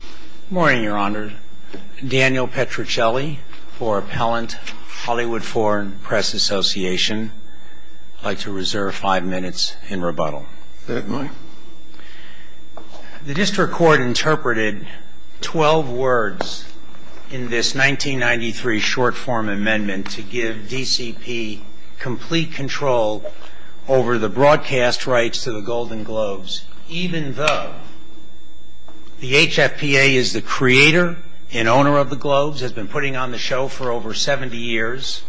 Good morning, Your Honor. Daniel Petruccelli for Appellant, Hollywood Foreign Press Association. I'd like to reserve five minutes in rebuttal. Certainly. The District Court interpreted twelve words in this 1993 short-form amendment to give DCP complete control over the broadcast rights to the Golden Globes, even though the HFPA is the creator and owner of the Globes, has been putting on the show for over 70 years,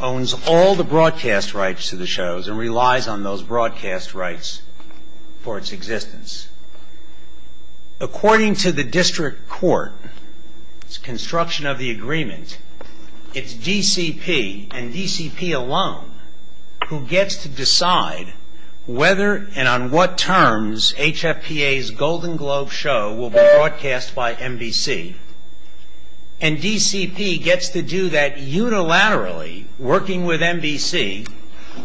owns all the broadcast rights to the shows and relies on those broadcast rights for its existence. According to the District Court's construction of the agreement, it's DCP and DCP alone who gets to decide whether and on what terms HFPA's Golden Globe show will be broadcast by NBC. And DCP gets to do that unilaterally, working with NBC,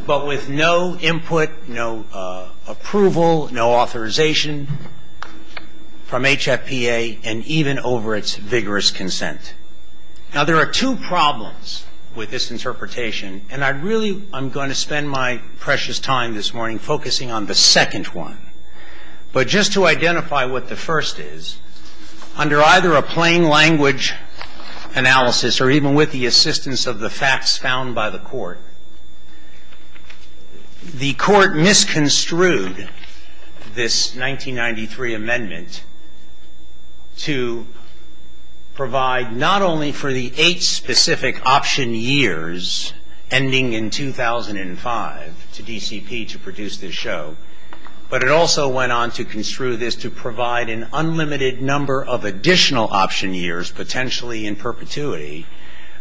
but with no input, no approval, no authorization from HFPA and even over its vigorous consent. Now, there are two problems with this interpretation, and I really am going to spend my precious time this morning focusing on the second one. But just to identify what the first is, under either a plain language analysis or even with the assistance of the facts found by the Court, the Court misconstrued this 1993 amendment to provide not only for the eight specific option years ending in 2005 to DCP to produce this show, but it also went on to construe this to provide an unlimited number of additional option years, potentially in perpetuity,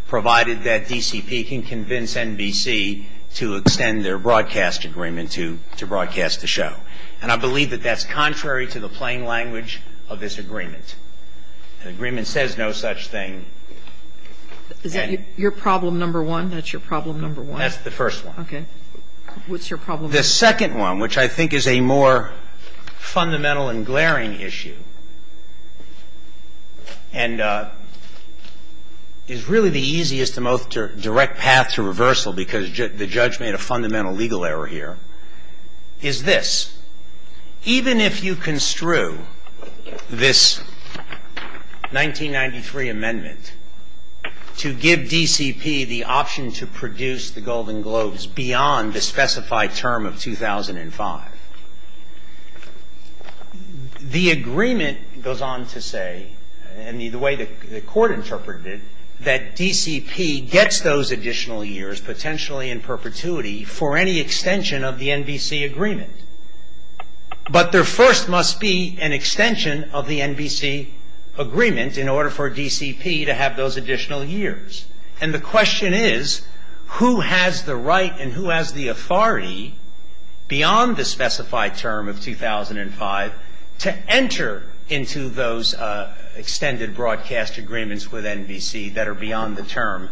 provided that DCP can convince NBC to extend their broadcast agreement to broadcast the show. And I believe that that's contrary to the plain language of this agreement. The agreement says no such thing. Is that your problem number one? That's your problem number one. That's the first one. Okay. What's your problem number one? The second one, which I think is a more fundamental and glaring issue and is really the easiest and most direct path to reversal because the judge made a fundamental legal error here, is this. The agreement goes on to say, and the way the Court interpreted it, that DCP gets those additional years potentially in perpetuity for any extension of the NBC agreement. But there first must be an extension of the NBC agreement in order for DCP to have those additional years. And the question is, who has the right and who has the authority beyond the specified term of 2005 to enter into those extended broadcast agreements with NBC that are beyond the term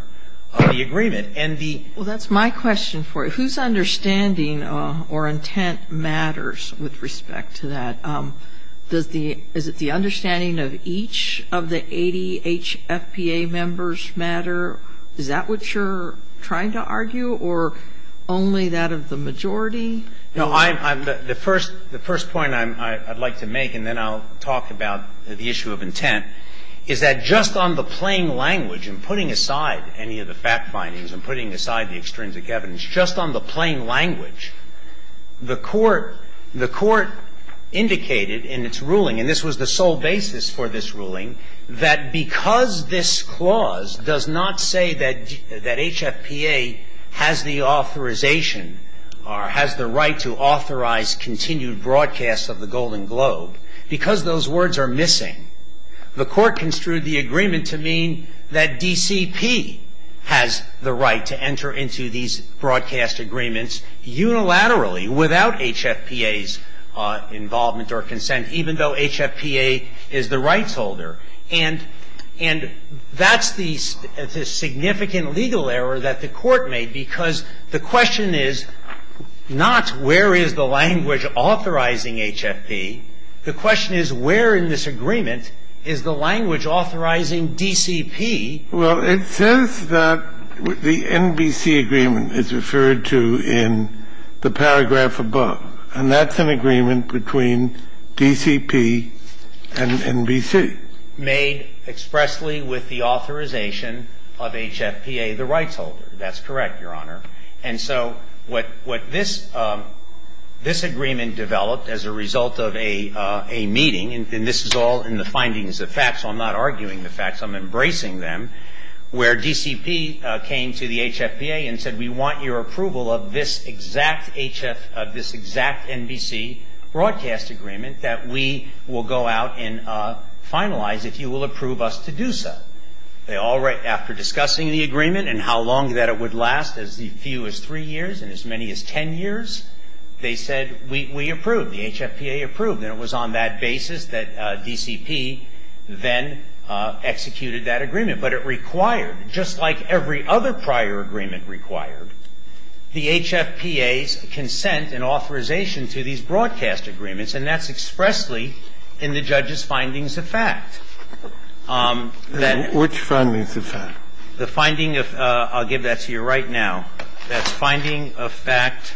of the agreement? Well, that's my question for you. Whose understanding or intent matters with respect to that? Is it the understanding of each of the 80 HFPA members matter? Is that what you're trying to argue or only that of the majority? No. The first point I'd like to make, and then I'll talk about the issue of intent, is that just on the plain language and putting aside any of the fact findings and putting aside the extrinsic evidence, just on the plain language, the Court indicated in its ruling, and this was the sole basis for this ruling, that because this clause does not say that HFPA has the authorization or has the right to authorize continued broadcast of the Golden Globe, because those words are missing, the Court construed the agreement to mean that DCP has the right to enter into these broadcast agreements unilaterally without HFPA's involvement or consent, even though HFPA is the rights holder. And that's the significant legal error that the Court made, because the question is not where is the language authorizing HFP. The question is where in this agreement is the language authorizing DCP. Well, it says that the NBC agreement is referred to in the paragraph above. And that's an agreement between DCP and NBC. Made expressly with the authorization of HFPA, the rights holder. That's correct, Your Honor. And so what this agreement developed as a result of a meeting, and this is all in the findings of facts, so I'm not arguing the facts, I'm embracing them, where DCP came to the HFPA and said, we want your approval of this exact NBC broadcast agreement that we will go out and finalize if you will approve us to do so. After discussing the agreement and how long that it would last, as few as three years and as many as ten years, they said, we approve. The HFPA approved. And it was on that basis that DCP then executed that agreement. But it required, just like every other prior agreement required, the HFPA's consent and authorization to these broadcast agreements, and that's expressly in the judge's findings of fact. Then the finding of, I'll give that to you right now. That's finding of fact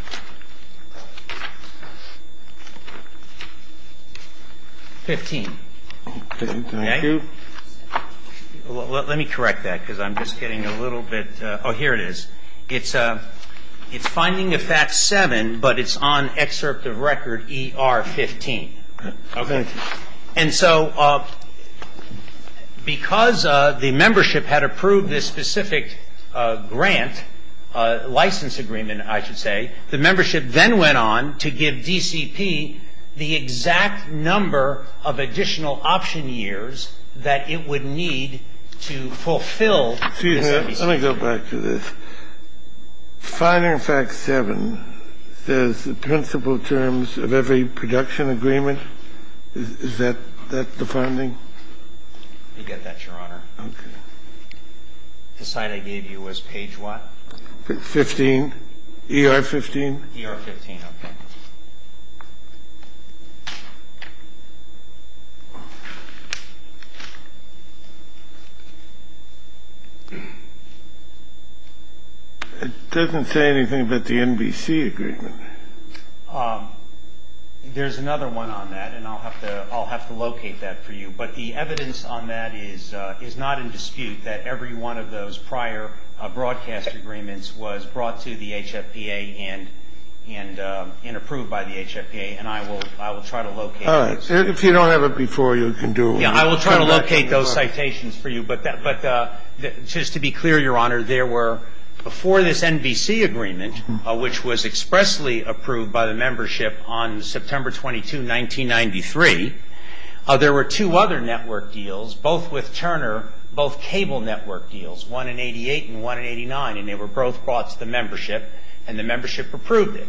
15. Thank you. Let me correct that because I'm just getting a little bit, oh, here it is. It's finding of fact 7, but it's on excerpt of record ER 15. Okay. And so because the membership had approved this specific grant, license agreement, I should say, the membership then went on to give DCP the exact number of additional option years that it would need to fulfill this NBC agreement. Excuse me. Let me go back to this. Finding of fact 7 says the principal terms of every production agreement. Is that the finding? You get that, Your Honor. Okay. The site I gave you was page what? 15. ER 15. ER 15. Okay. It doesn't say anything about the NBC agreement. There's another one on that, and I'll have to locate that for you. But the evidence on that is not in dispute that every one of those prior broadcast agreements was brought to the HFPA and approved by the HFPA. And I will try to locate those. If you don't have it before, you can do it. Yeah, I will try to locate those citations for you. But just to be clear, Your Honor, there were before this NBC agreement, which was expressly approved by the membership on September 22, 1993, there were two other network deals, both with Turner, both cable network deals, one in 88 and one in 89, and they were both brought to the membership, and the membership approved it.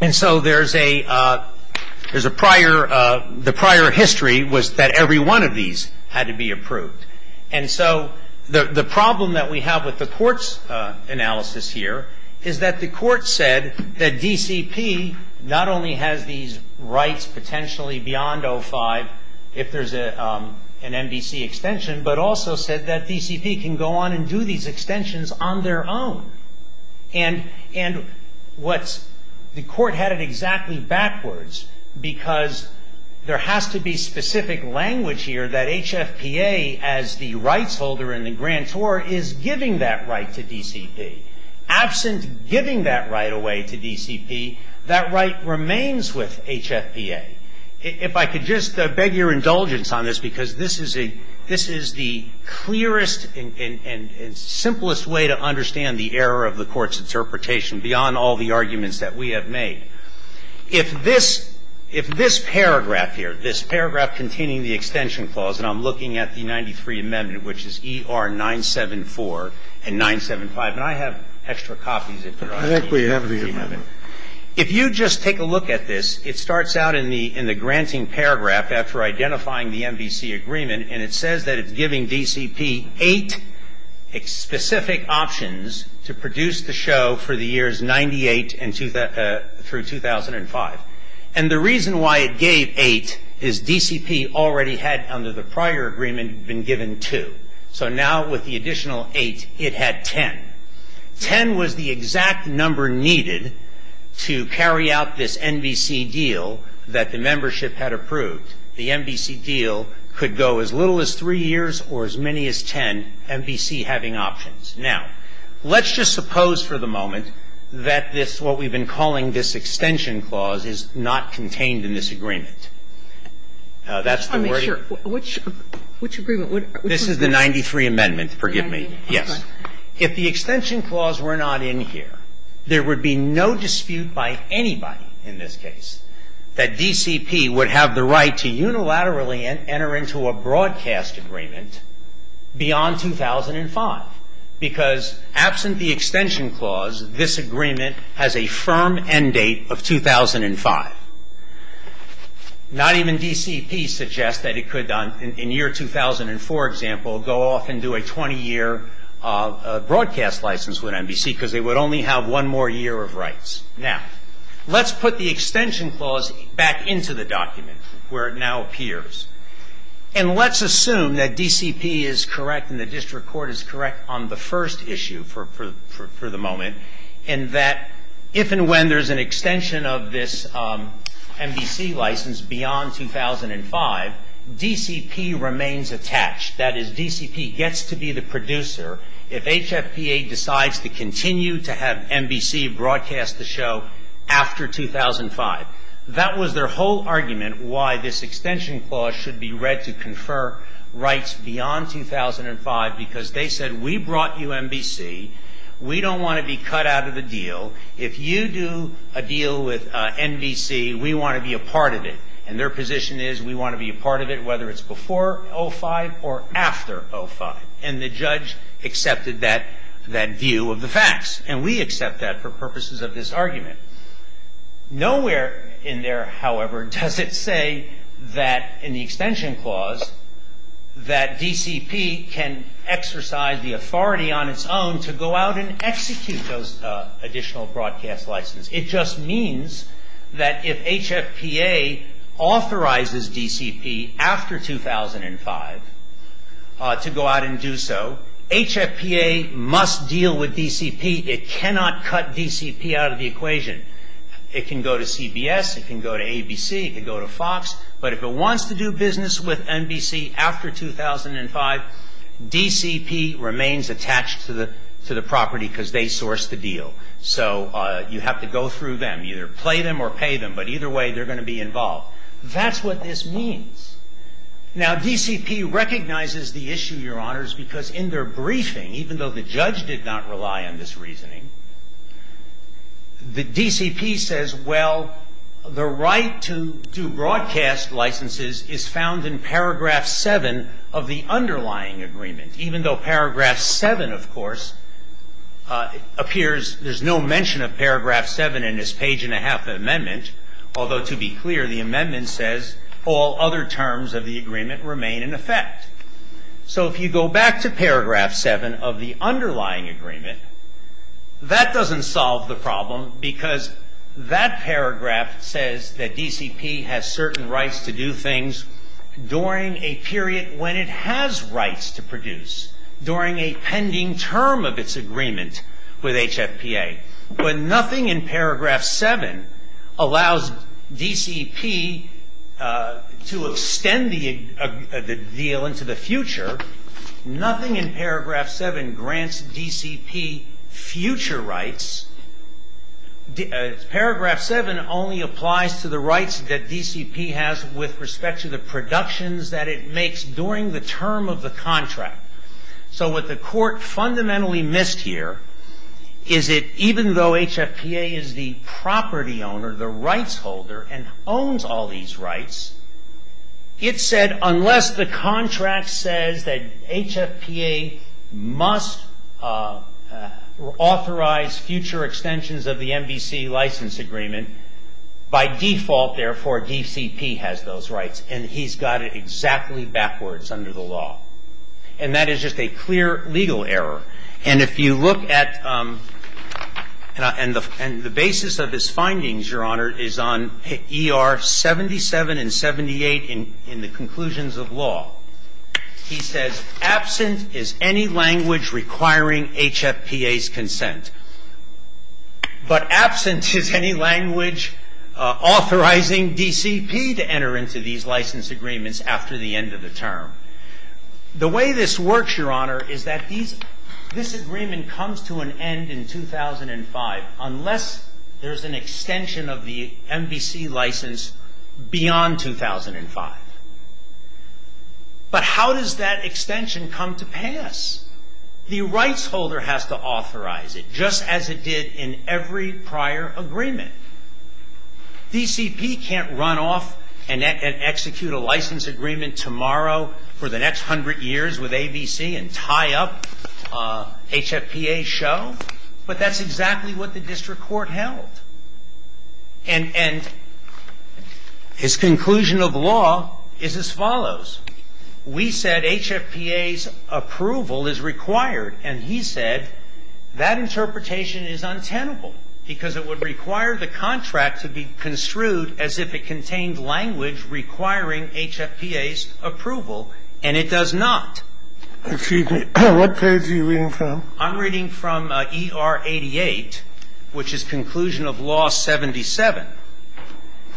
And so there's a prior the prior history was that every one of these had to be approved. And so the problem that we have with the court's analysis here is that the court said that DCP not only has these rights potentially beyond 05 if there's an NBC extension, but also said that DCP can go on and do these extensions on their own. And the court had it exactly backwards because there has to be specific language here that HFPA, as the rights holder and the grantor, is giving that right to DCP. Absent giving that right away to DCP, that right remains with HFPA. If I could just beg your indulgence on this, because this is the clearest and most important point. I think it's important to understand the error of the Court's interpretation beyond all the arguments that we have made. If this paragraph here, this paragraph containing the extension clause, and I'm looking at the 93 amendment, which is ER 974 and 975, and I have extra copies if you're asking me. I think we have the amendment. If you just take a look at this, it starts out in the granting paragraph after identifying the NBC agreement, and it says that it's giving DCP eight specific options to produce the show for the years 98 through 2005. And the reason why it gave eight is DCP already had, under the prior agreement, been given two. So now with the additional eight, it had ten. Ten was the exact number needed to carry out this NBC deal that the membership had approved. The NBC deal could go as little as three years or as many as ten, NBC having options. Now, let's just suppose for the moment that this, what we've been calling this extension clause, is not contained in this agreement. That's the wording. Sotomayor, which agreement? This is the 93 amendment, forgive me. Yes. If the extension clause were not in here, there would be no dispute by anybody in this case that DCP would have the right to unilaterally enter into a broadcast agreement beyond 2005, because absent the extension clause, this agreement has a firm end date of 2005. Not even DCP suggests that it could, in year 2004, for example, go off and do a 120-year broadcast license with NBC, because they would only have one more year of rights. Now, let's put the extension clause back into the document, where it now appears. And let's assume that DCP is correct and the district court is correct on the first issue for the moment, and that if and when there's an extension of this NBC license beyond 2005, DCP remains attached. That is, DCP gets to be the producer if HFPA decides to continue to have NBC broadcast the show after 2005. That was their whole argument, why this extension clause should be read to confer rights beyond 2005, because they said, we brought you NBC. We don't want to be cut out of the deal. If you do a deal with NBC, we want to be a part of it. And their position is, we want to be a part of it, whether it's before 2005 or after 2005. And the judge accepted that view of the facts. And we accept that for purposes of this argument. Nowhere in there, however, does it say that in the extension clause that DCP can exercise the authority on its own to go out and execute those additional broadcast licenses. It just means that if HFPA authorizes DCP after 2005 to go out and do so, HFPA must deal with DCP. It cannot cut DCP out of the equation. It can go to CBS. It can go to ABC. It can go to Fox. But if it wants to do business with NBC after 2005, DCP remains attached to the property because they sourced the deal. So you have to go through them, either play them or pay them. But either way, they're going to be involved. That's what this means. Now, DCP recognizes the issue, Your Honors, because in their briefing, even though the judge did not rely on this reasoning, the DCP says, well, the right to do broadcast licenses is found in paragraph 7 of the underlying agreement, even though paragraph 7, of course, appears. There's no mention of paragraph 7 in this page-and-a-half amendment, although to be clear, the amendment says all other terms of the agreement remain in effect. So if you go back to paragraph 7 of the underlying agreement, that doesn't solve the problem because that paragraph says that DCP has certain rights to do things during a period when it has rights to produce, during a pending term of its agreement with HFPA. When nothing in paragraph 7 allows DCP to extend the deal into the future, nothing in paragraph 7 grants DCP future rights. Paragraph 7 only applies to the rights that DCP has with respect to the productions that it makes during the term of the contract. So what the court fundamentally missed here is that even though HFPA is the property owner, the rights holder, and owns all these rights, it said unless the contract says that HFPA must authorize future extensions of the NBC license agreement, by default, therefore, DCP has those rights, and he's got it exactly backwards under the law. And that is just a clear legal error. And if you look at the basis of his findings, Your Honor, is on ER 77 and 78 in the conclusions of law, he says, absent is any language requiring HFPA's consent, but absent is any language authorizing DCP to enter into these license agreements after the end of the term. The way this works, Your Honor, is that this agreement comes to an end in 2005 unless there's an extension of the NBC license beyond 2005. But how does that extension come to pass? The rights holder has to authorize it, just as it did in every prior agreement. DCP can't run off and execute a license agreement tomorrow for the next hundred years with ABC and tie up HFPA's show, but that's exactly what the district court held. And his conclusion of law is as follows. We said HFPA's approval is required, and he said that interpretation is untenable because it would require the contract to be construed as if it contained language requiring HFPA's approval, and it does not. Excuse me. What page are you reading from? I'm reading from ER 88, which is conclusion of law 77.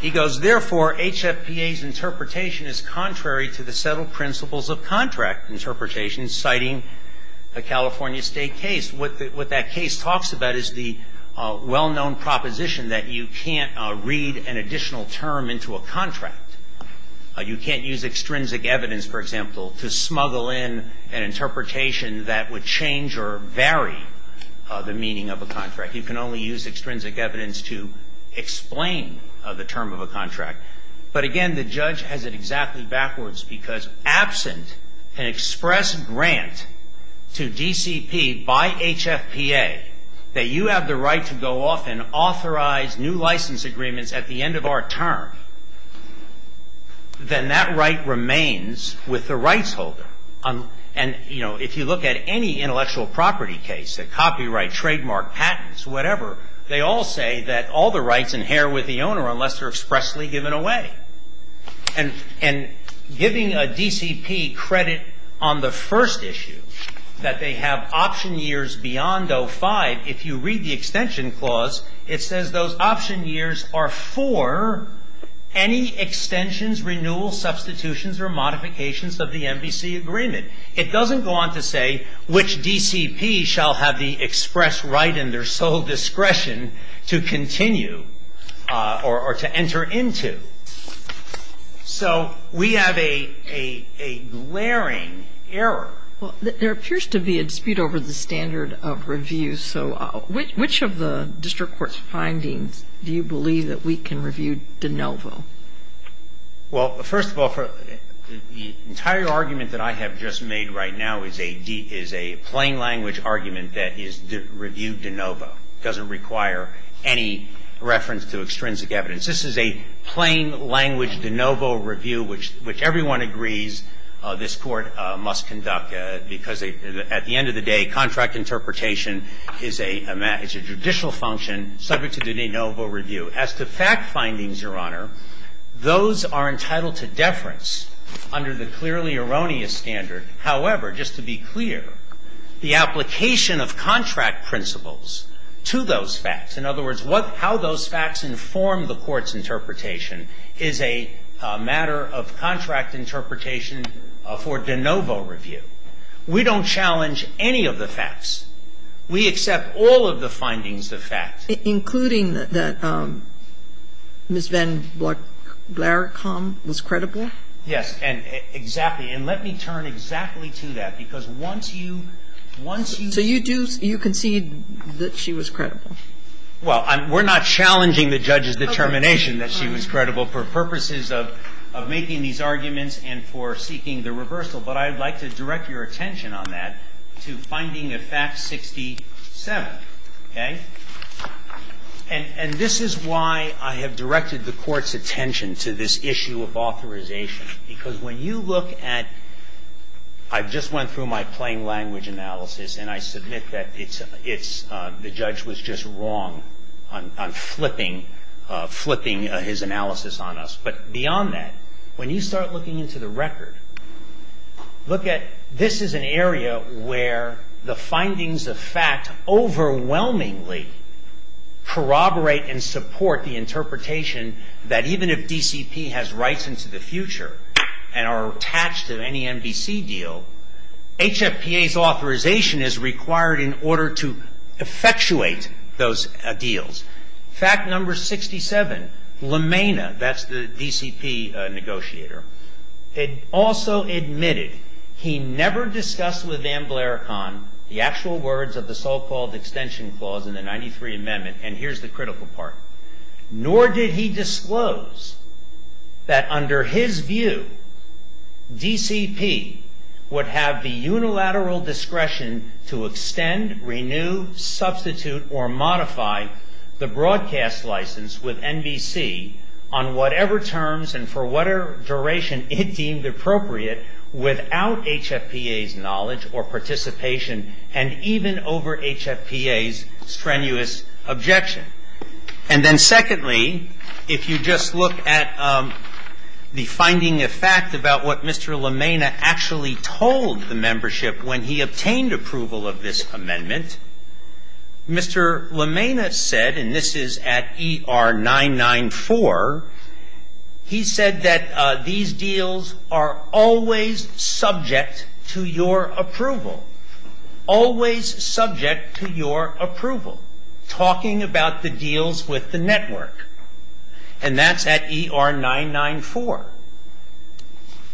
He goes, therefore, HFPA's interpretation is contrary to the settled principles of contract interpretation, citing a California State case. What that case talks about is the well-known proposition that you can't read an additional term into a contract. You can't use extrinsic evidence, for example, to smuggle in an interpretation that would change or vary the meaning of a contract. You can only use extrinsic evidence to explain the term of a contract. But again, the judge has it exactly backwards because absent an express grant to DCP by HFPA that you have the right to go off and authorize new license agreements at the end of our term, then that right remains with the rights holder. And, you know, if you look at any intellectual property case, a copyright, trademark, patents, whatever, they all say that all the rights inherit with the owner unless they're expressly given away. And giving a DCP credit on the first issue, that they have option years beyond 05, if you read the extension clause, it says those option years are for any extensions, renewals, substitutions, or modifications of the MVC agreement. It doesn't go on to say which DCP shall have the express right and their sole discretion to continue or to enter into. So we have a glaring error. Well, there appears to be a dispute over the standard of review. So which of the district court's findings do you believe that we can review de novo? Well, first of all, the entire argument that I have just made right now is a plain language argument that is review de novo. It doesn't require any reference to extrinsic evidence. This is a plain language de novo review which everyone agrees this Court must conduct because at the end of the day, contract interpretation is a judicial function subject to de novo review. As to fact findings, Your Honor, those are entitled to deference under the clearly erroneous standard. However, just to be clear, the application of contract principles to those facts, in other words, how those facts inform the Court's interpretation, is a matter of contract interpretation for de novo review. We don't challenge any of the facts. We accept all of the findings of fact. Including that Ms. Van Blaricombe was credible? Yes. And exactly. And let me turn exactly to that because once you once you So you do you concede that she was credible? Well, we're not challenging the judge's determination that she was credible for purposes of making these arguments and for seeking the reversal. But I would like to direct your attention on that to finding of fact 67, okay? And this is why I have directed the Court's attention to this issue of authorization because when you look at – I just went through my plain language analysis and I submit that the judge was just wrong on flipping his analysis on us. But beyond that, when you start looking into the record, look at this is an area where the findings of fact overwhelmingly corroborate and support the interpretation that even if DCP has rights into the future and are attached to any MDC deal, HFPA's authorization is required in order to effectuate those deals. Fact number 67, LeMena, that's the DCP negotiator, also admitted he never discussed with Van Blaricombe the actual words of the so-called extension clause in the 93 Amendment and here's the critical part. Nor did he disclose that under his view, DCP would have the unilateral discretion to extend, renew, substitute, or modify the broadcast license with NBC on whatever terms and for whatever duration it deemed appropriate without HFPA's knowledge or participation and even over HFPA's strenuous objection. And then secondly, if you just look at the finding of fact about what Mr. LeMena actually told the membership when he obtained approval of this amendment, Mr. LeMena said, and this is at ER 994, he said that these deals are always subject to your approval, always subject to your approval, talking about the deals with the network. And that's at ER 994.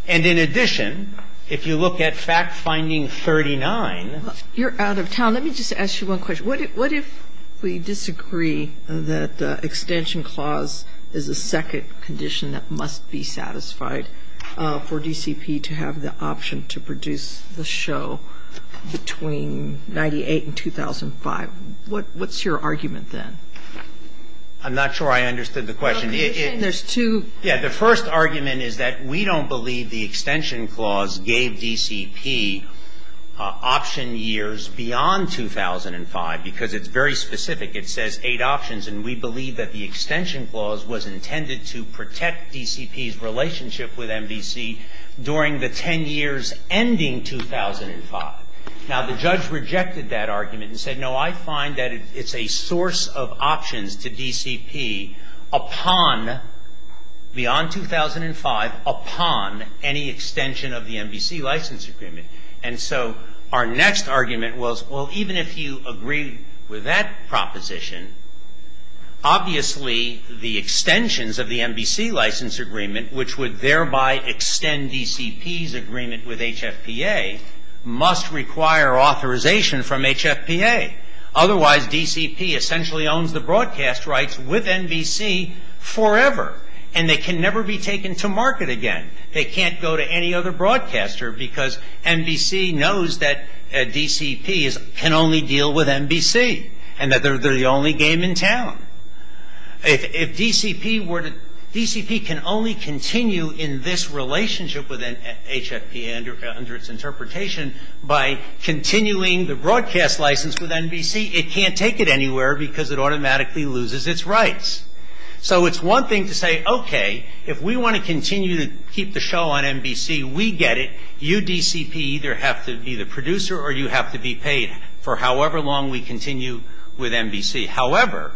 And in addition, if you look at fact finding 39. You're out of town. Let me just ask you one question. What if we disagree that the extension clause is a second condition that must be satisfied for DCP to have the option to produce the show between 98 and 2005? What's your argument then? I'm not sure I understood the question. There's two. Yeah, the first argument is that we don't believe the extension clause gave DCP option years beyond 2005, because it's very specific. It says eight options. And we believe that the extension clause was intended to protect DCP's relationship with MVC during the ten years ending 2005. Now, the judge rejected that argument and said, no, I find that it's a source of options to DCP upon, beyond 2005, upon any extension of the MVC license agreement. And so our next argument was, well, even if you agree with that proposition, obviously the extensions of the MVC license agreement, which would thereby extend DCP's agreement with HFPA, must require authorization from HFPA. Otherwise, DCP essentially owns the broadcast rights with MVC forever. And they can never be taken to market again. They can't go to any other broadcaster because MVC knows that DCP can only deal with MVC and that they're the only game in town. If DCP can only continue in this relationship with HFPA under its interpretation by continuing the broadcast license with MVC, it can't take it anywhere because it automatically loses its rights. So it's one thing to say, okay, if we want to continue to keep the show on MVC, we get it. You, DCP, either have to be the producer or you have to be paid for however long we continue with MVC. However,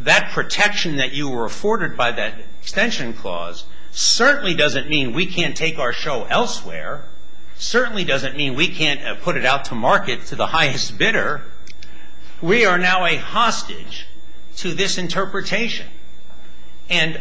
that protection that you were afforded by that extension clause certainly doesn't mean we can't take our show elsewhere, certainly doesn't mean we can't put it out to market to the highest bidder. We are now a hostage to this interpretation. And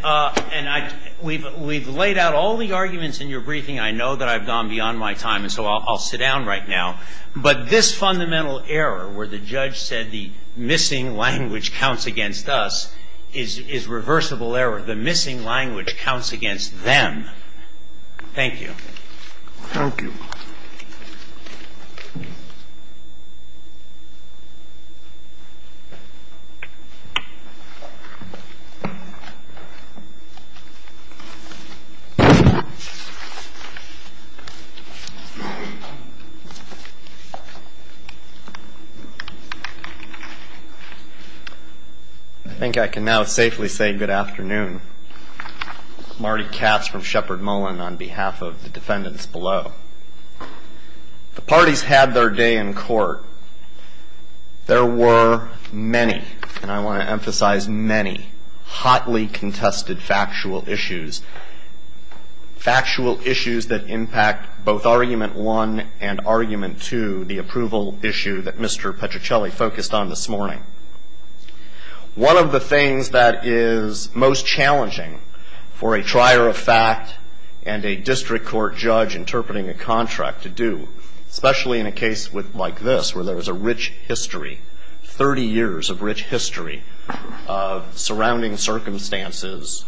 we've laid out all the arguments in your briefing. I know that I've gone beyond my time, and so I'll sit down right now. But this fundamental error where the judge said the missing language counts against us is reversible error. The missing language counts against them. Thank you. Thank you. I think I can now safely say good afternoon. Marty Katz from Shepard Mullen on behalf of the defendants below. The parties had their day in court. There were many, and I want to emphasize many, hotly contested factual issues, factual issues that impact both Argument 1 and Argument 2, the approval issue that Mr. Petrucelli focused on this morning. One of the things that is most challenging for a trier of fact and a district court judge interpreting a contract to do, especially in a case like this where there is a rich history, 30 years of rich history of surrounding circumstances,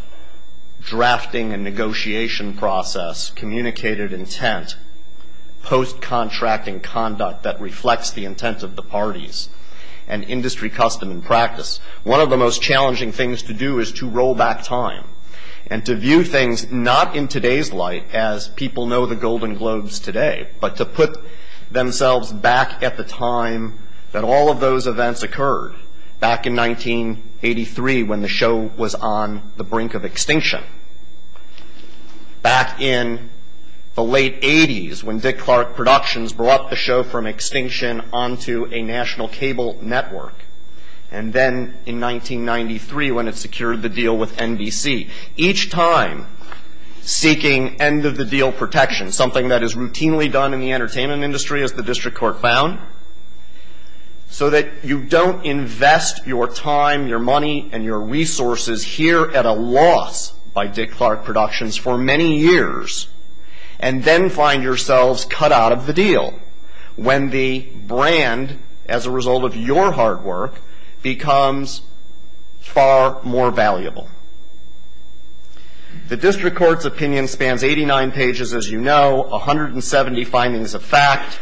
drafting and negotiation process, communicated intent, post-contracting conduct that reflects the intent of the parties, and industry custom and practice. One of the most challenging things to do is to roll back time and to view things not in today's light as people know the Golden Globes today, but to put themselves back at the time that all of those events occurred, back in 1983 when the show was on the brink of extinction, back in the late 80s when Dick Clark Productions brought the show from extinction onto a national cable network, and then in 1993 when it secured the deal with NBC, each time seeking end-of-the-deal protection, something that is routinely done in the entertainment industry, as the district court found, so that you don't invest your time, your money, and your resources here at a loss by Dick Clark Productions for many years, and then find yourselves cut out of the deal when the brand, as a result of your hard work, becomes far more valuable. The district court's opinion spans 89 pages, as you know, 170 findings of fact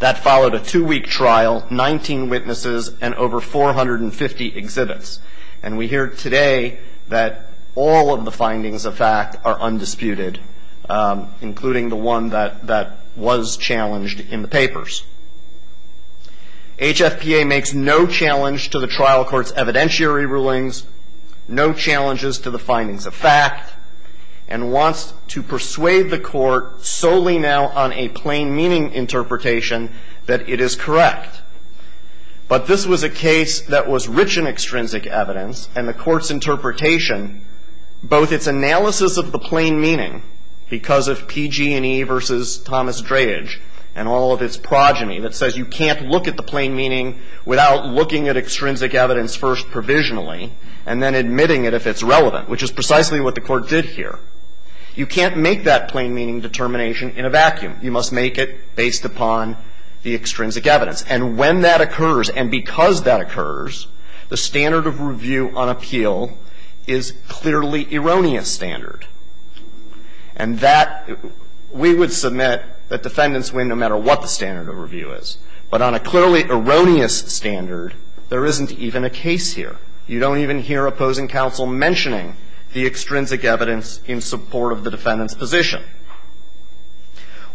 that followed a two-week trial, 19 witnesses, and over 450 exhibits, and we hear today that all of the findings of fact are undisputed, including the one that was challenged in the papers. HFPA makes no challenge to the trial court's evidentiary rulings, no challenges to the findings of fact, and wants to persuade the court, solely now on a plain-meaning interpretation, that it is correct. But this was a case that was rich in extrinsic evidence, and the court's interpretation, both its analysis of the plain meaning, because of PG&E versus Thomas Dreyage, and all of its progeny that says you can't look at the plain meaning without looking at extrinsic evidence first provisionally, and then admitting it if it's relevant, which is precisely what the court did here. You can't make that plain-meaning determination in a vacuum. You must make it based upon the extrinsic evidence. And when that occurs, and because that occurs, the standard of review on appeal is clearly erroneous standard. And that we would submit that defendants win no matter what the standard of review is. But on a clearly erroneous standard, there isn't even a case here. You don't even hear opposing counsel mentioning the extrinsic evidence in support of the defendant's position.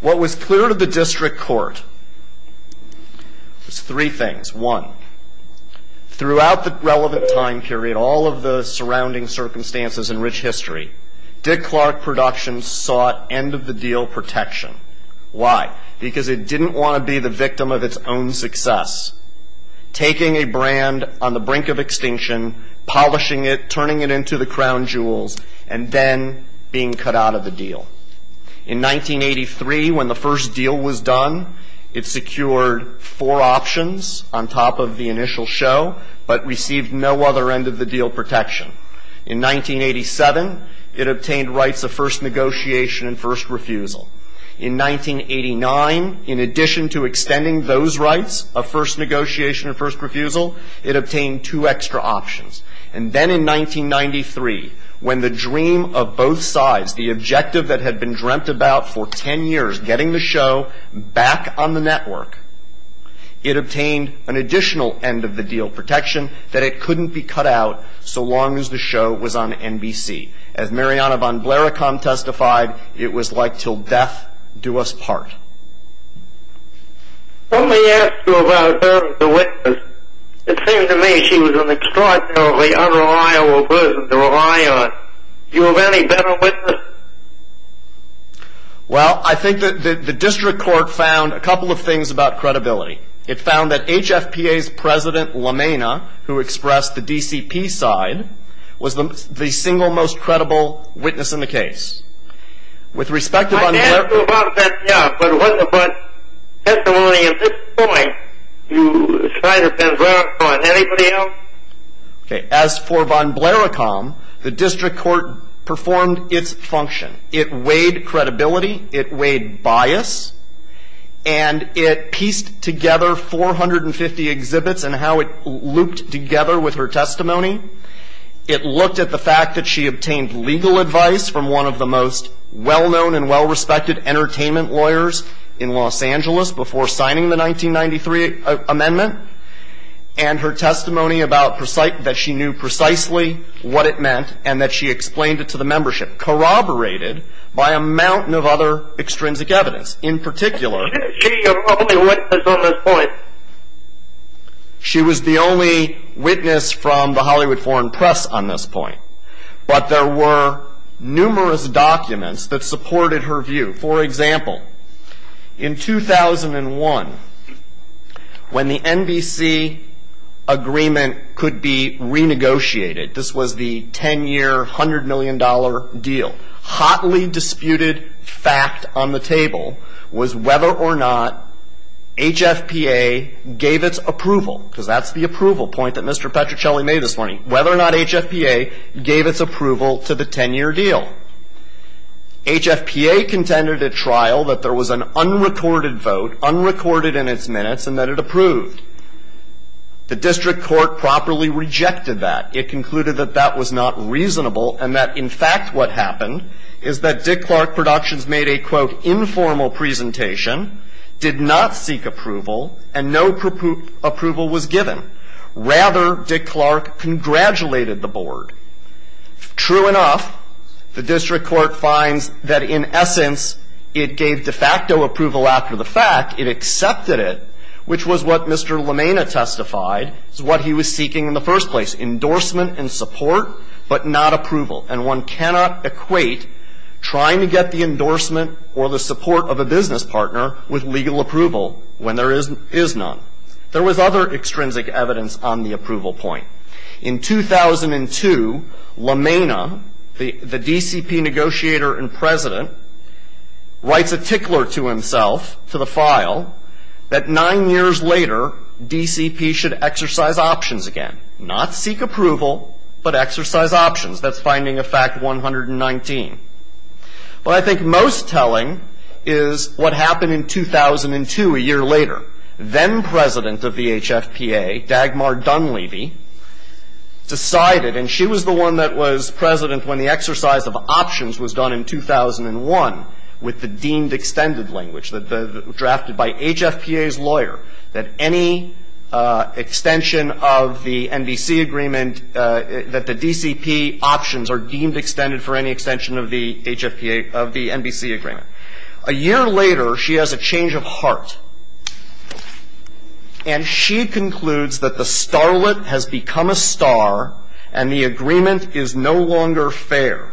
What was clear to the district court was three things. One, throughout the relevant time period, all of the surrounding circumstances in rich history, Dick Clark Productions sought end-of-the-deal protection. Why? Because it didn't want to be the victim of its own success, taking a brand on the brink of extinction, polishing it, turning it into the crown jewels, and then being cut out of the deal. In 1983, when the first deal was done, it secured four options on top of the initial show, but received no other end-of-the-deal protection. In 1987, it obtained rights of first negotiation and first refusal. In 1989, in addition to extending those rights of first negotiation and first refusal, it obtained two extra options. And then in 1993, when the dream of both sides, the objective that had been dreamt about for ten years, getting the show back on the network, it obtained an additional end-of-the-deal protection that it couldn't be cut out so long as the show was on NBC. As Mariana Von Blairacom testified, it was like till death do us part. When we asked you about her as a witness, it seemed to me she was an extraordinarily unreliable person to rely on. Do you have any better witnesses? Well, I think that the district court found a couple of things about credibility. It found that HFPA's President LaMena, who expressed the DCP side, was the single most credible witness in the case. With respect to Von Blairacom. I asked you about that, yeah, but testimony at this point, you cited Von Blairacom. Anybody else? As for Von Blairacom, the district court performed its function. It weighed credibility, it weighed bias, and it pieced together 450 exhibits and how it looped together with her testimony. It looked at the fact that she obtained legal advice from one of the most well-known and well-respected entertainment lawyers in Los Angeles before signing the 1993 amendment, and her testimony that she knew precisely what it meant and that she explained it to the membership. Corroborated by a mountain of other extrinsic evidence. In particular, she was the only witness from the Hollywood Foreign Press on this point. But there were numerous documents that supported her view. For example, in 2001, when the NBC agreement could be renegotiated, this was the 10-year, $100 million deal, hotly disputed fact on the table was whether or not HFPA gave its approval, because that's the approval point that Mr. Petrucelli made this morning, whether or not HFPA gave its approval to the 10-year deal. HFPA contended at trial that there was an unrecorded vote, unrecorded in its minutes, and that it approved. The district court properly rejected that. It concluded that that was not reasonable and that, in fact, what happened is that Dick Clark Productions made a, quote, informal presentation, did not seek approval, and no approval was given. Rather, Dick Clark congratulated the board. True enough, the district court finds that, in essence, it gave de facto approval after the fact. It accepted it, which was what Mr. LaMena testified is what he was seeking in the first place, endorsement and support, but not approval. And one cannot equate trying to get the endorsement or the support of a business partner with legal approval when there is none. There was other extrinsic evidence on the approval point. In 2002, LaMena, the DCP negotiator and president, writes a tickler to himself, to the file, that nine years later, DCP should exercise options again. Not seek approval, but exercise options. That's finding of fact 119. What I think most telling is what happened in 2002, a year later. A year later, then-president of the HFPA, Dagmar Dunleavy, decided, and she was the one that was president when the exercise of options was done in 2001 with the deemed extended language, drafted by HFPA's lawyer, that any extension of the NBC agreement that the DCP options are deemed extended for any extension of the HFPA, of the NBC agreement. A year later, she has a change of heart. And she concludes that the starlet has become a star and the agreement is no longer fair.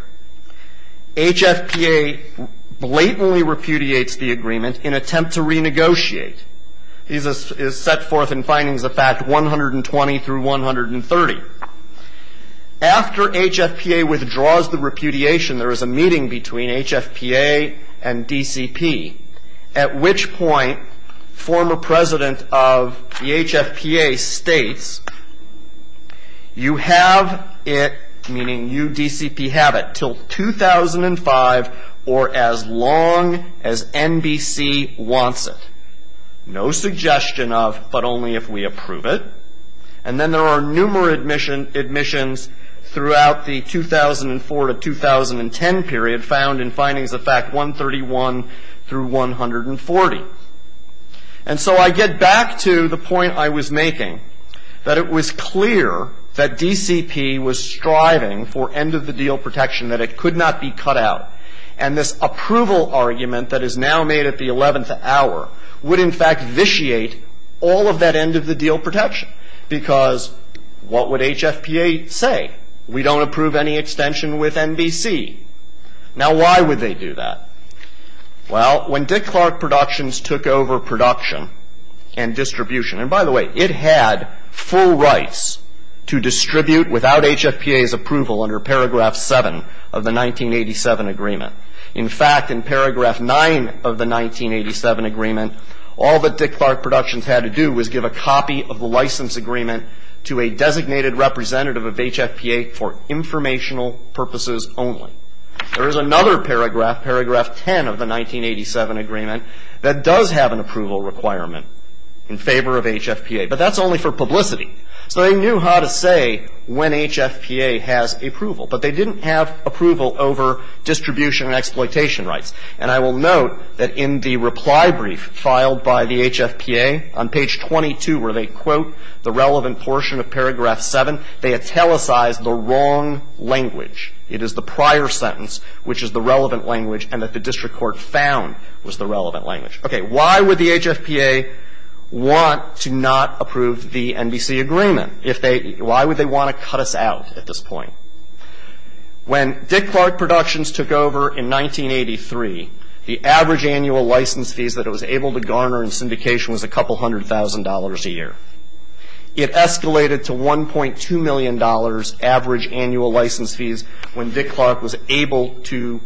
HFPA blatantly repudiates the agreement in attempt to renegotiate. This is set forth in findings of fact 120 through 130. After HFPA withdraws the repudiation, there is a meeting between HFPA and DCP, at which point former president of the HFPA states, you have it, meaning you, DCP, have it, till 2005 or as long as NBC wants it. No suggestion of, but only if we approve it. And then there are numerous admissions throughout the 2004 to 2010 period found in findings of fact 131 through 140. And so I get back to the point I was making, that it was clear that DCP was striving for end of the deal protection, that it could not be cut out. And this approval argument that is now made at the 11th hour would, in fact, vitiate all of that end of the deal protection, because what would HFPA say? We don't approve any extension with NBC. Now, why would they do that? Well, when Dick Clark Productions took over production and distribution, and by the way, it had full rights to distribute without HFPA's approval under paragraph 7 of the 1987 agreement. In fact, in paragraph 9 of the 1987 agreement, all that Dick Clark Productions had to do was give a copy of the license agreement to a designated representative of HFPA for informational purposes only. There is another paragraph, paragraph 10 of the 1987 agreement, that does have an approval requirement in favor of HFPA, but that's only for publicity. So they knew how to say when HFPA has approval, but they didn't have approval over distribution and exploitation rights. And I will note that in the reply brief filed by the HFPA, on page 22, where they quote the relevant portion of paragraph 7, they italicized the wrong language. It is the prior sentence, which is the relevant language, and that the district court found was the relevant language. Okay. Why would the HFPA want to not approve the NBC agreement? If they – why would they want to cut us out at this point? When Dick Clark Productions took over in 1983, the average annual license fees that it was able to garner in syndication was a couple hundred thousand dollars a year. It escalated to $1.2 million average annual license fees when Dick Clark was able to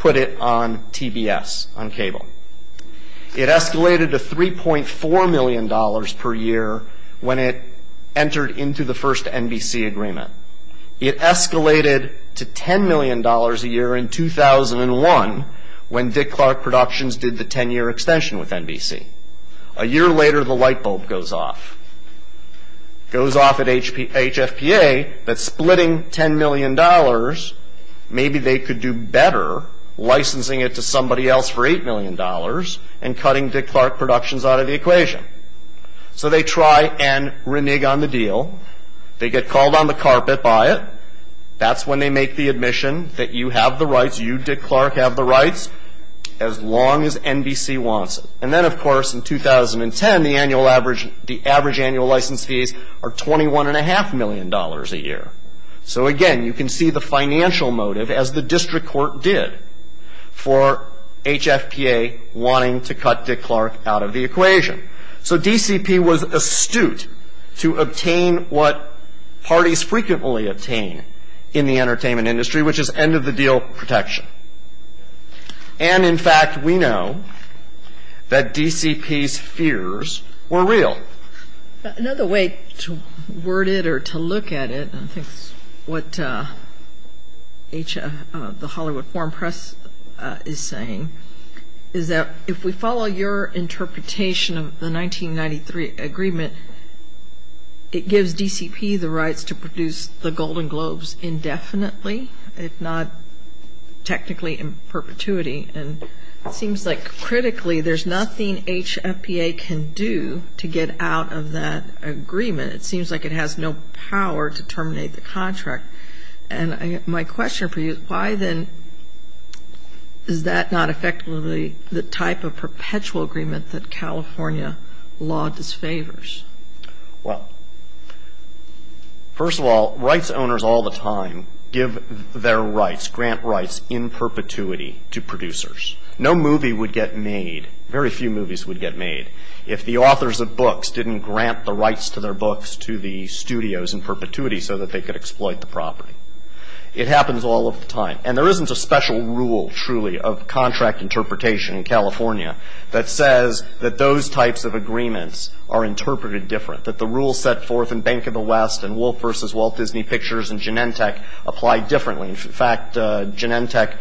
put it on TBS, on cable. It escalated to $3.4 million per year when it entered into the first NBC agreement. It escalated to $10 million a year in 2001 when Dick Clark Productions did the 10-year extension with NBC. A year later, the light bulb goes off. It goes off at HFPA that splitting $10 million, maybe they could do better licensing it to somebody else for $8 million and cutting Dick Clark Productions out of the equation. So they try and renege on the deal. They get called on the carpet by it. That's when they make the admission that you have the rights, you, Dick Clark, have the rights as long as NBC wants it. And then, of course, in 2010, the annual average – the average annual license fees are $21.5 million a year. So, again, you can see the financial motive, as the district court did, for HFPA wanting to cut Dick Clark out of the equation. So DCP was astute to obtain what parties frequently obtain in the entertainment industry, which is end-of-the-deal protection. And, in fact, we know that DCP's fears were real. Another way to word it or to look at it, and I think it's what HF – the Hollywood Foreign Press is saying, is that if we follow your interpretation of the 1993 agreement, it gives DCP the rights to produce the Golden Globes indefinitely, if not technically in perpetuity. And it seems like, critically, there's nothing HFPA can do to get out of that agreement. It seems like it has no power to terminate the contract. And my question for you is, why then is that not effectively the type of perpetual agreement that California law disfavors? Well, first of all, rights owners all the time give their rights, grant rights in perpetuity to producers. No movie would get made – very few movies would get made – if the authors of books didn't grant the rights to their books to the studios in perpetuity so that they could exploit the property. It happens all of the time. And there isn't a special rule, truly, of contract interpretation in California that says that those types of agreements are interpreted different, that the rules set forth in Bank of the West and Wolf v. Walt Disney Pictures and Genentech apply differently. In fact, Genentech,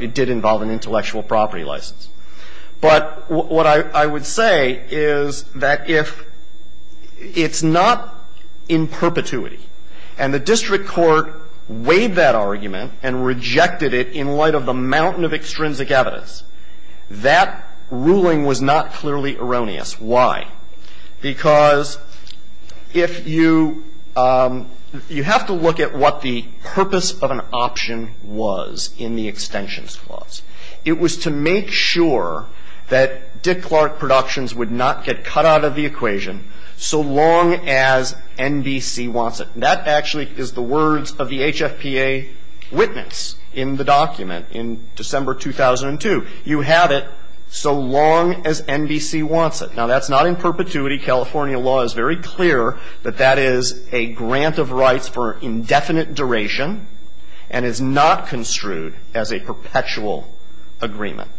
it did involve an intellectual property license. But what I would say is that if it's not in perpetuity, if it's not in perpetuity, and the district court weighed that argument and rejected it in light of a mountain of extrinsic evidence, that ruling was not clearly erroneous. Why? Because if you – you have to look at what the purpose of an option was in the extensions clause. It was to make sure that Dick Clark Productions would not get cut out of the equation so long as NBC wants it. And that actually is the words of the HFPA witness in the document in December 2002. You have it so long as NBC wants it. Now, that's not in perpetuity. California law is very clear that that is a grant of rights for indefinite duration and is not construed as a perpetual agreement.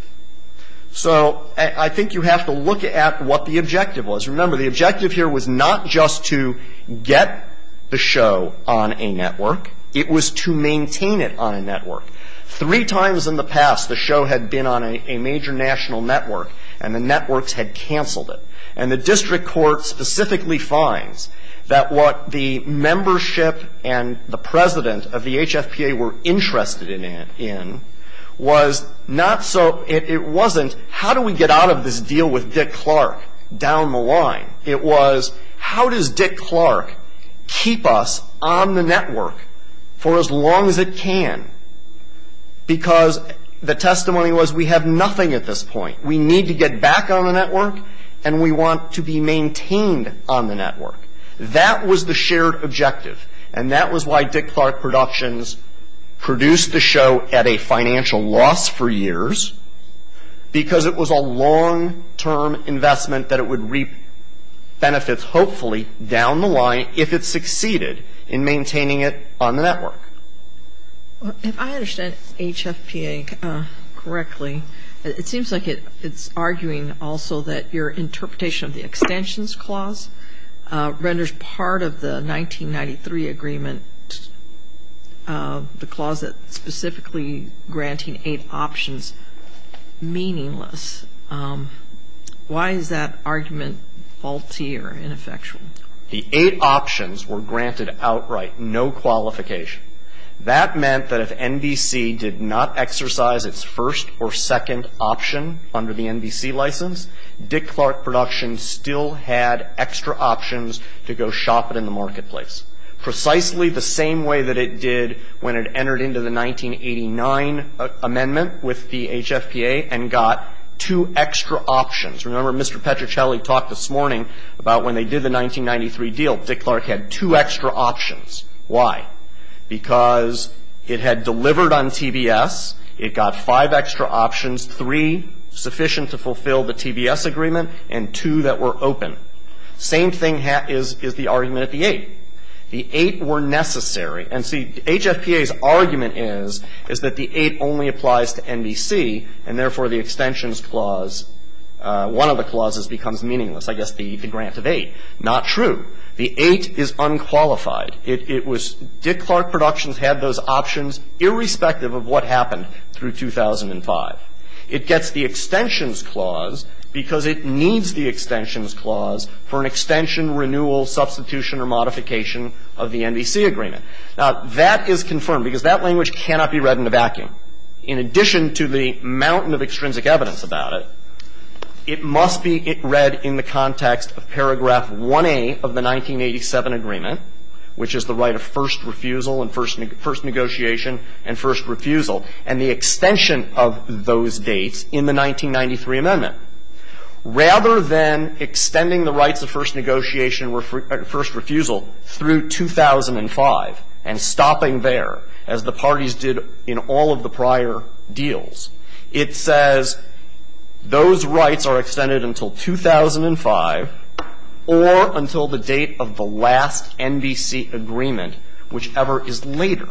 So I think you have to look at what the objective was. Remember, the objective here was not just to get the show on a network. It was to maintain it on a network. Three times in the past, the show had been on a major national network and the networks had canceled it. And the district court specifically finds that what the membership and the president of the HFPA were interested in was not so – it wasn't how do we get out of this deal with Dick Clark down the line. It was how does Dick Clark keep us on the network for as long as it can because the testimony was we have nothing at this point. We need to get back on the network and we want to be maintained on the network. That was the shared objective. And that was why Dick Clark Productions produced the show at a financial loss for a long-term investment that it would reap benefits hopefully down the line if it succeeded in maintaining it on the network. If I understand HFPA correctly, it seems like it's arguing also that your interpretation of the extensions clause renders part of the 1993 agreement the clause that specifically granting eight options meaningless. Why is that argument faulty or ineffectual? The eight options were granted outright, no qualification. That meant that if NBC did not exercise its first or second option under the NBC license, Dick Clark Productions still had extra options to go shop it in the marketplace. Precisely the same way that it did when it entered into the 1989 amendment with the HFPA and got two extra options. Remember Mr. Petruccelli talked this morning about when they did the 1993 deal, Dick Clark had two extra options. Why? Because it had delivered on TBS, it got five extra options, three sufficient to fulfill the TBS agreement, and two that were open. Same thing is the argument at the eight. The eight were necessary. And see, HFPA's argument is, is that the eight only applies to NBC and therefore the extensions clause, one of the clauses becomes meaningless, I guess the grant of eight. Not true. The eight is unqualified. It was, Dick Clark Productions had those options irrespective of what happened through 2005. It gets the extensions clause because it needs the extensions clause for an extension, renewal, substitution, or modification of the NBC agreement. Now, that is confirmed because that language cannot be read in a vacuum. In addition to the mountain of extrinsic evidence about it, it must be read in the context of paragraph 1A of the 1987 agreement, which is the right of first refusal and first negotiation and first refusal, and the extension of those dates in the 1993 amendment. Rather than extending the rights of first negotiation and first refusal through 2005 and stopping there, as the parties did in all of the prior deals, it says those rights are extended until 2005 or until the date of the last NBC agreement, whichever is later,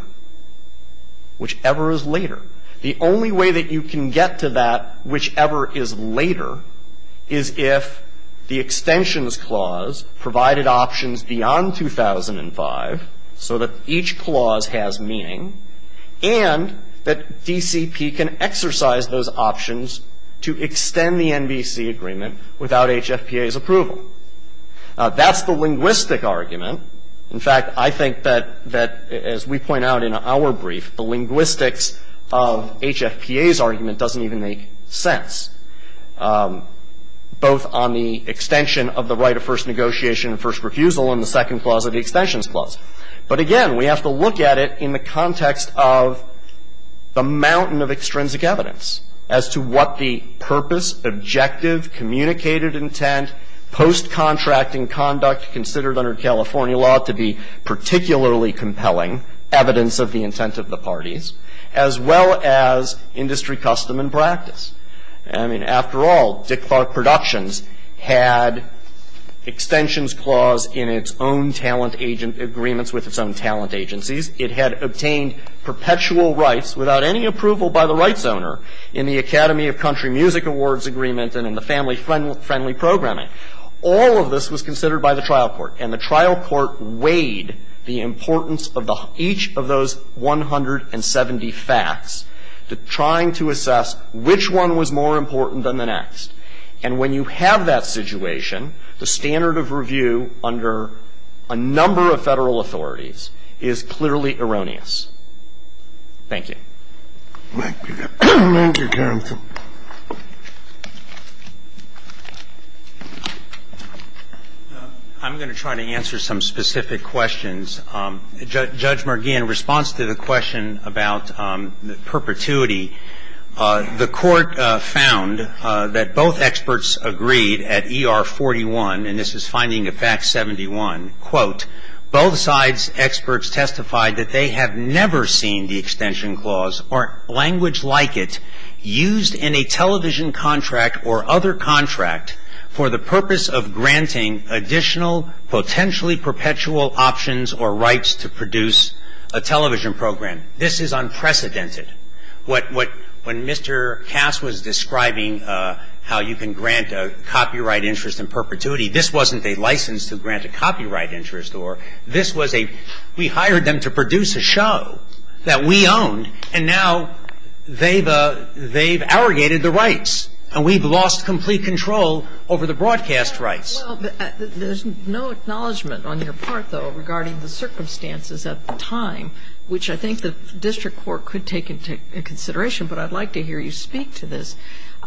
whichever is later. The only way that you can get to that whichever is later is if the extensions clause provided options beyond 2005 so that each clause has meaning and that DCP can exercise those options to extend the NBC agreement without HFPA's approval. Now, that's the linguistic argument. In fact, I think that as we point out in our brief, the linguistics of HFPA's argument doesn't even make sense, both on the extension of the right of first negotiation and first refusal and the second clause of the extensions clause. But again, we have to look at it in the context of the mountain of extrinsic evidence as to what the purpose, objective, communicated intent, post-contracting conduct considered under California law to be particularly compelling evidence of the intent of the parties, as well as industry custom and practice. I mean, after all, Dick Clark Productions had extensions clause in its own talent agent agreements with its own talent agencies. It had obtained perpetual rights without any approval by the rights owner in the And the trial court weighed the importance of each of those 170 facts, trying to assess which one was more important than the next. And when you have that situation, the standard of review under a number of Federal authorities is clearly erroneous. Thank you. Thank you. Thank you, counsel. I'm going to try to answer some specific questions. Judge Mergui, in response to the question about perpetuity, the Court found that both experts agreed at ER 41, and this is finding of Fact 71, quote, both sides' experts testified that they have never seen the extension clause or language like it used in a television contract or other contract for the purpose of granting additional potentially perpetual options or rights to produce a television program. This is unprecedented. When Mr. Cass was describing how you can grant a copyright interest in perpetuity, this wasn't a license to grant a copyright interest, or this was a, we hired them to produce a show that we owned, and now they've, they've arrogated the rights, and we've lost complete control over the broadcast rights. Well, there's no acknowledgment on your part, though, regarding the circumstances at the time, which I think the district court could take into consideration, but I'd like to hear you speak to this.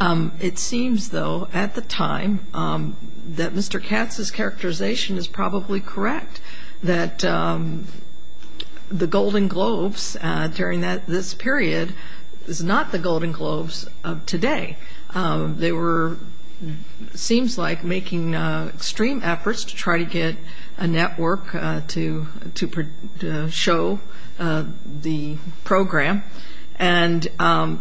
It seems, though, at the time that Mr. Katz's characterization is probably correct, that the Golden Globes during this period is not the Golden Globes of today. They were, it seems like, making extreme efforts to try to get a network to show the program, and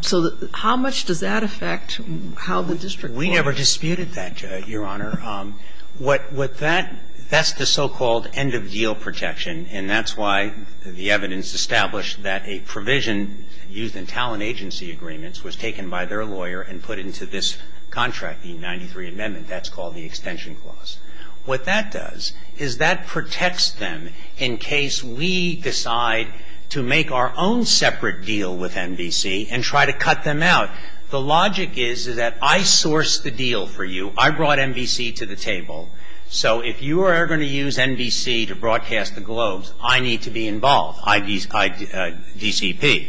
so how much does that affect how the district court acts? We never disputed that, Your Honor. What that, that's the so-called end-of-deal protection, and that's why the evidence established that a provision used in talent agency agreements was taken by their lawyer and put into this contract, the 93 Amendment. That's called the extension clause. What that does is that protects them in case we decide to make our own separate deal with NBC and try to cut them out. The logic is that I sourced the deal for you. I brought NBC to the table, so if you are going to use NBC to broadcast the Globes, I need to be involved, I, DCP.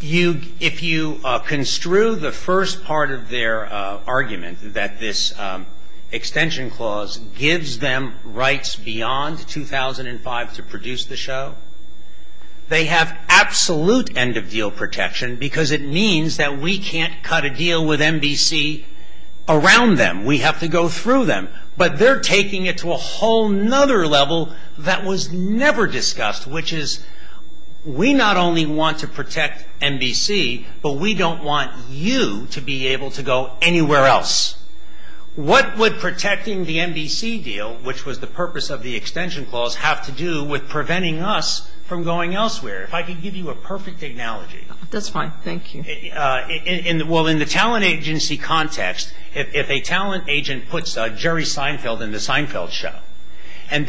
You, if you construe the first part of their argument that this extension clause gives them rights beyond 2005 to produce the show, they have absolute end-of-deal protection because it means that we can't cut a deal with NBC around them. We have to go through them. But they're taking it to a whole other level that was never discussed, which is we not only want to protect NBC, but we don't want you to be able to go anywhere else. What would protecting the NBC deal, which was the purpose of the extension clause, have to do with preventing us from going elsewhere? If I could give you a perfect analogy. That's fine. Thank you. Well, in the talent agency context, if a talent agent puts Jerry Seinfeld in the show and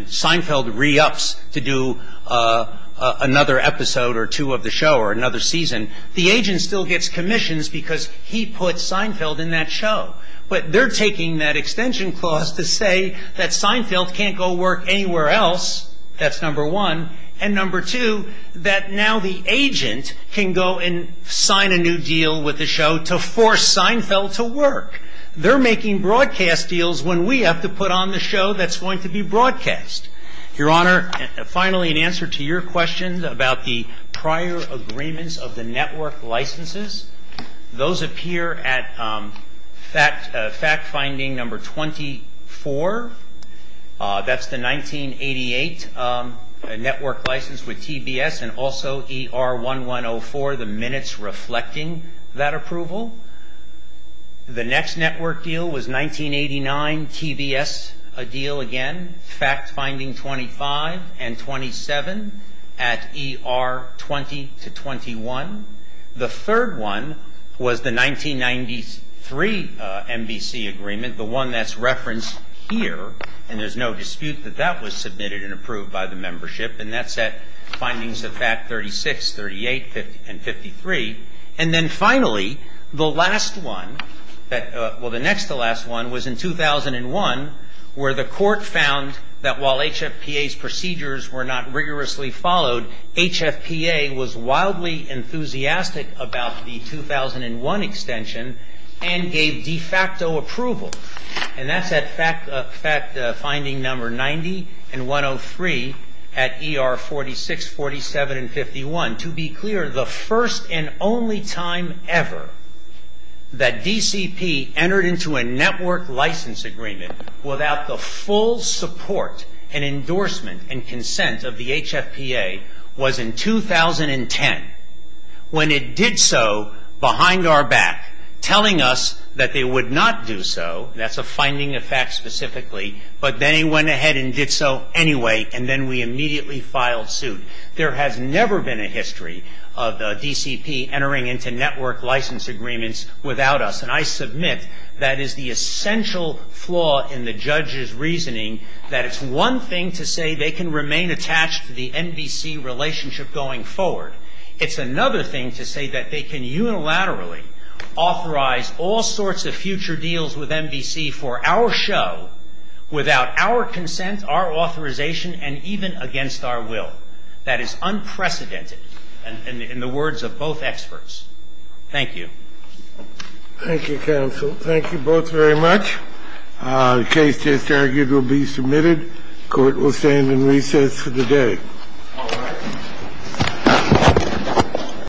Seinfeld re-ups to do another episode or two of the show or another season, the agent still gets commissions because he put Seinfeld in that show. But they're taking that extension clause to say that Seinfeld can't go work anywhere else. That's number one. And number two, that now the agent can go and sign a new deal with the show to force Seinfeld to work. They're making broadcast deals when we have to put on the show that's going to be broadcast. Your Honor, finally, in answer to your question about the prior agreements of the network licenses, those appear at fact finding number 24. That's the 1988 network license with TBS and also ER1104, the minutes reflecting that approval. The next network deal was 1989, TBS a deal again. Fact finding 25 and 27 at ER20 to 21. The third one was the 1993 MBC agreement, the one that's referenced here. And there's no dispute that that was submitted and approved by the membership. And that's at findings of fact 36, 38, and 53. And then finally, the last one, well, the next to last one was in 2001 where the court found that while HFPA's procedures were not rigorously followed, HFPA was wildly enthusiastic about the 2001 extension and gave de facto approval. And that's at fact finding number 90 and 103 at ER46, 47, and 51. To be clear, the first and only time ever that DCP entered into a network license agreement without the full support and endorsement and consent of the HFPA was in 2010 when it did so behind our back, telling us that they would not do so. That's a finding of fact specifically. But then it went ahead and did so anyway. And then we immediately filed suit. There has never been a history of DCP entering into network license agreements without us. And I submit that is the essential flaw in the judge's reasoning that it's one thing to say they can remain attached to the MBC relationship going forward. It's another thing to say that they can unilaterally authorize all sorts of future deals with MBC for our show without our consent, our authorization, and even against our will. That is unprecedented in the words of both experts. Thank you. Thank you, counsel. Thank you both very much. The case just argued will be submitted. Court will stand in recess for the day. All right.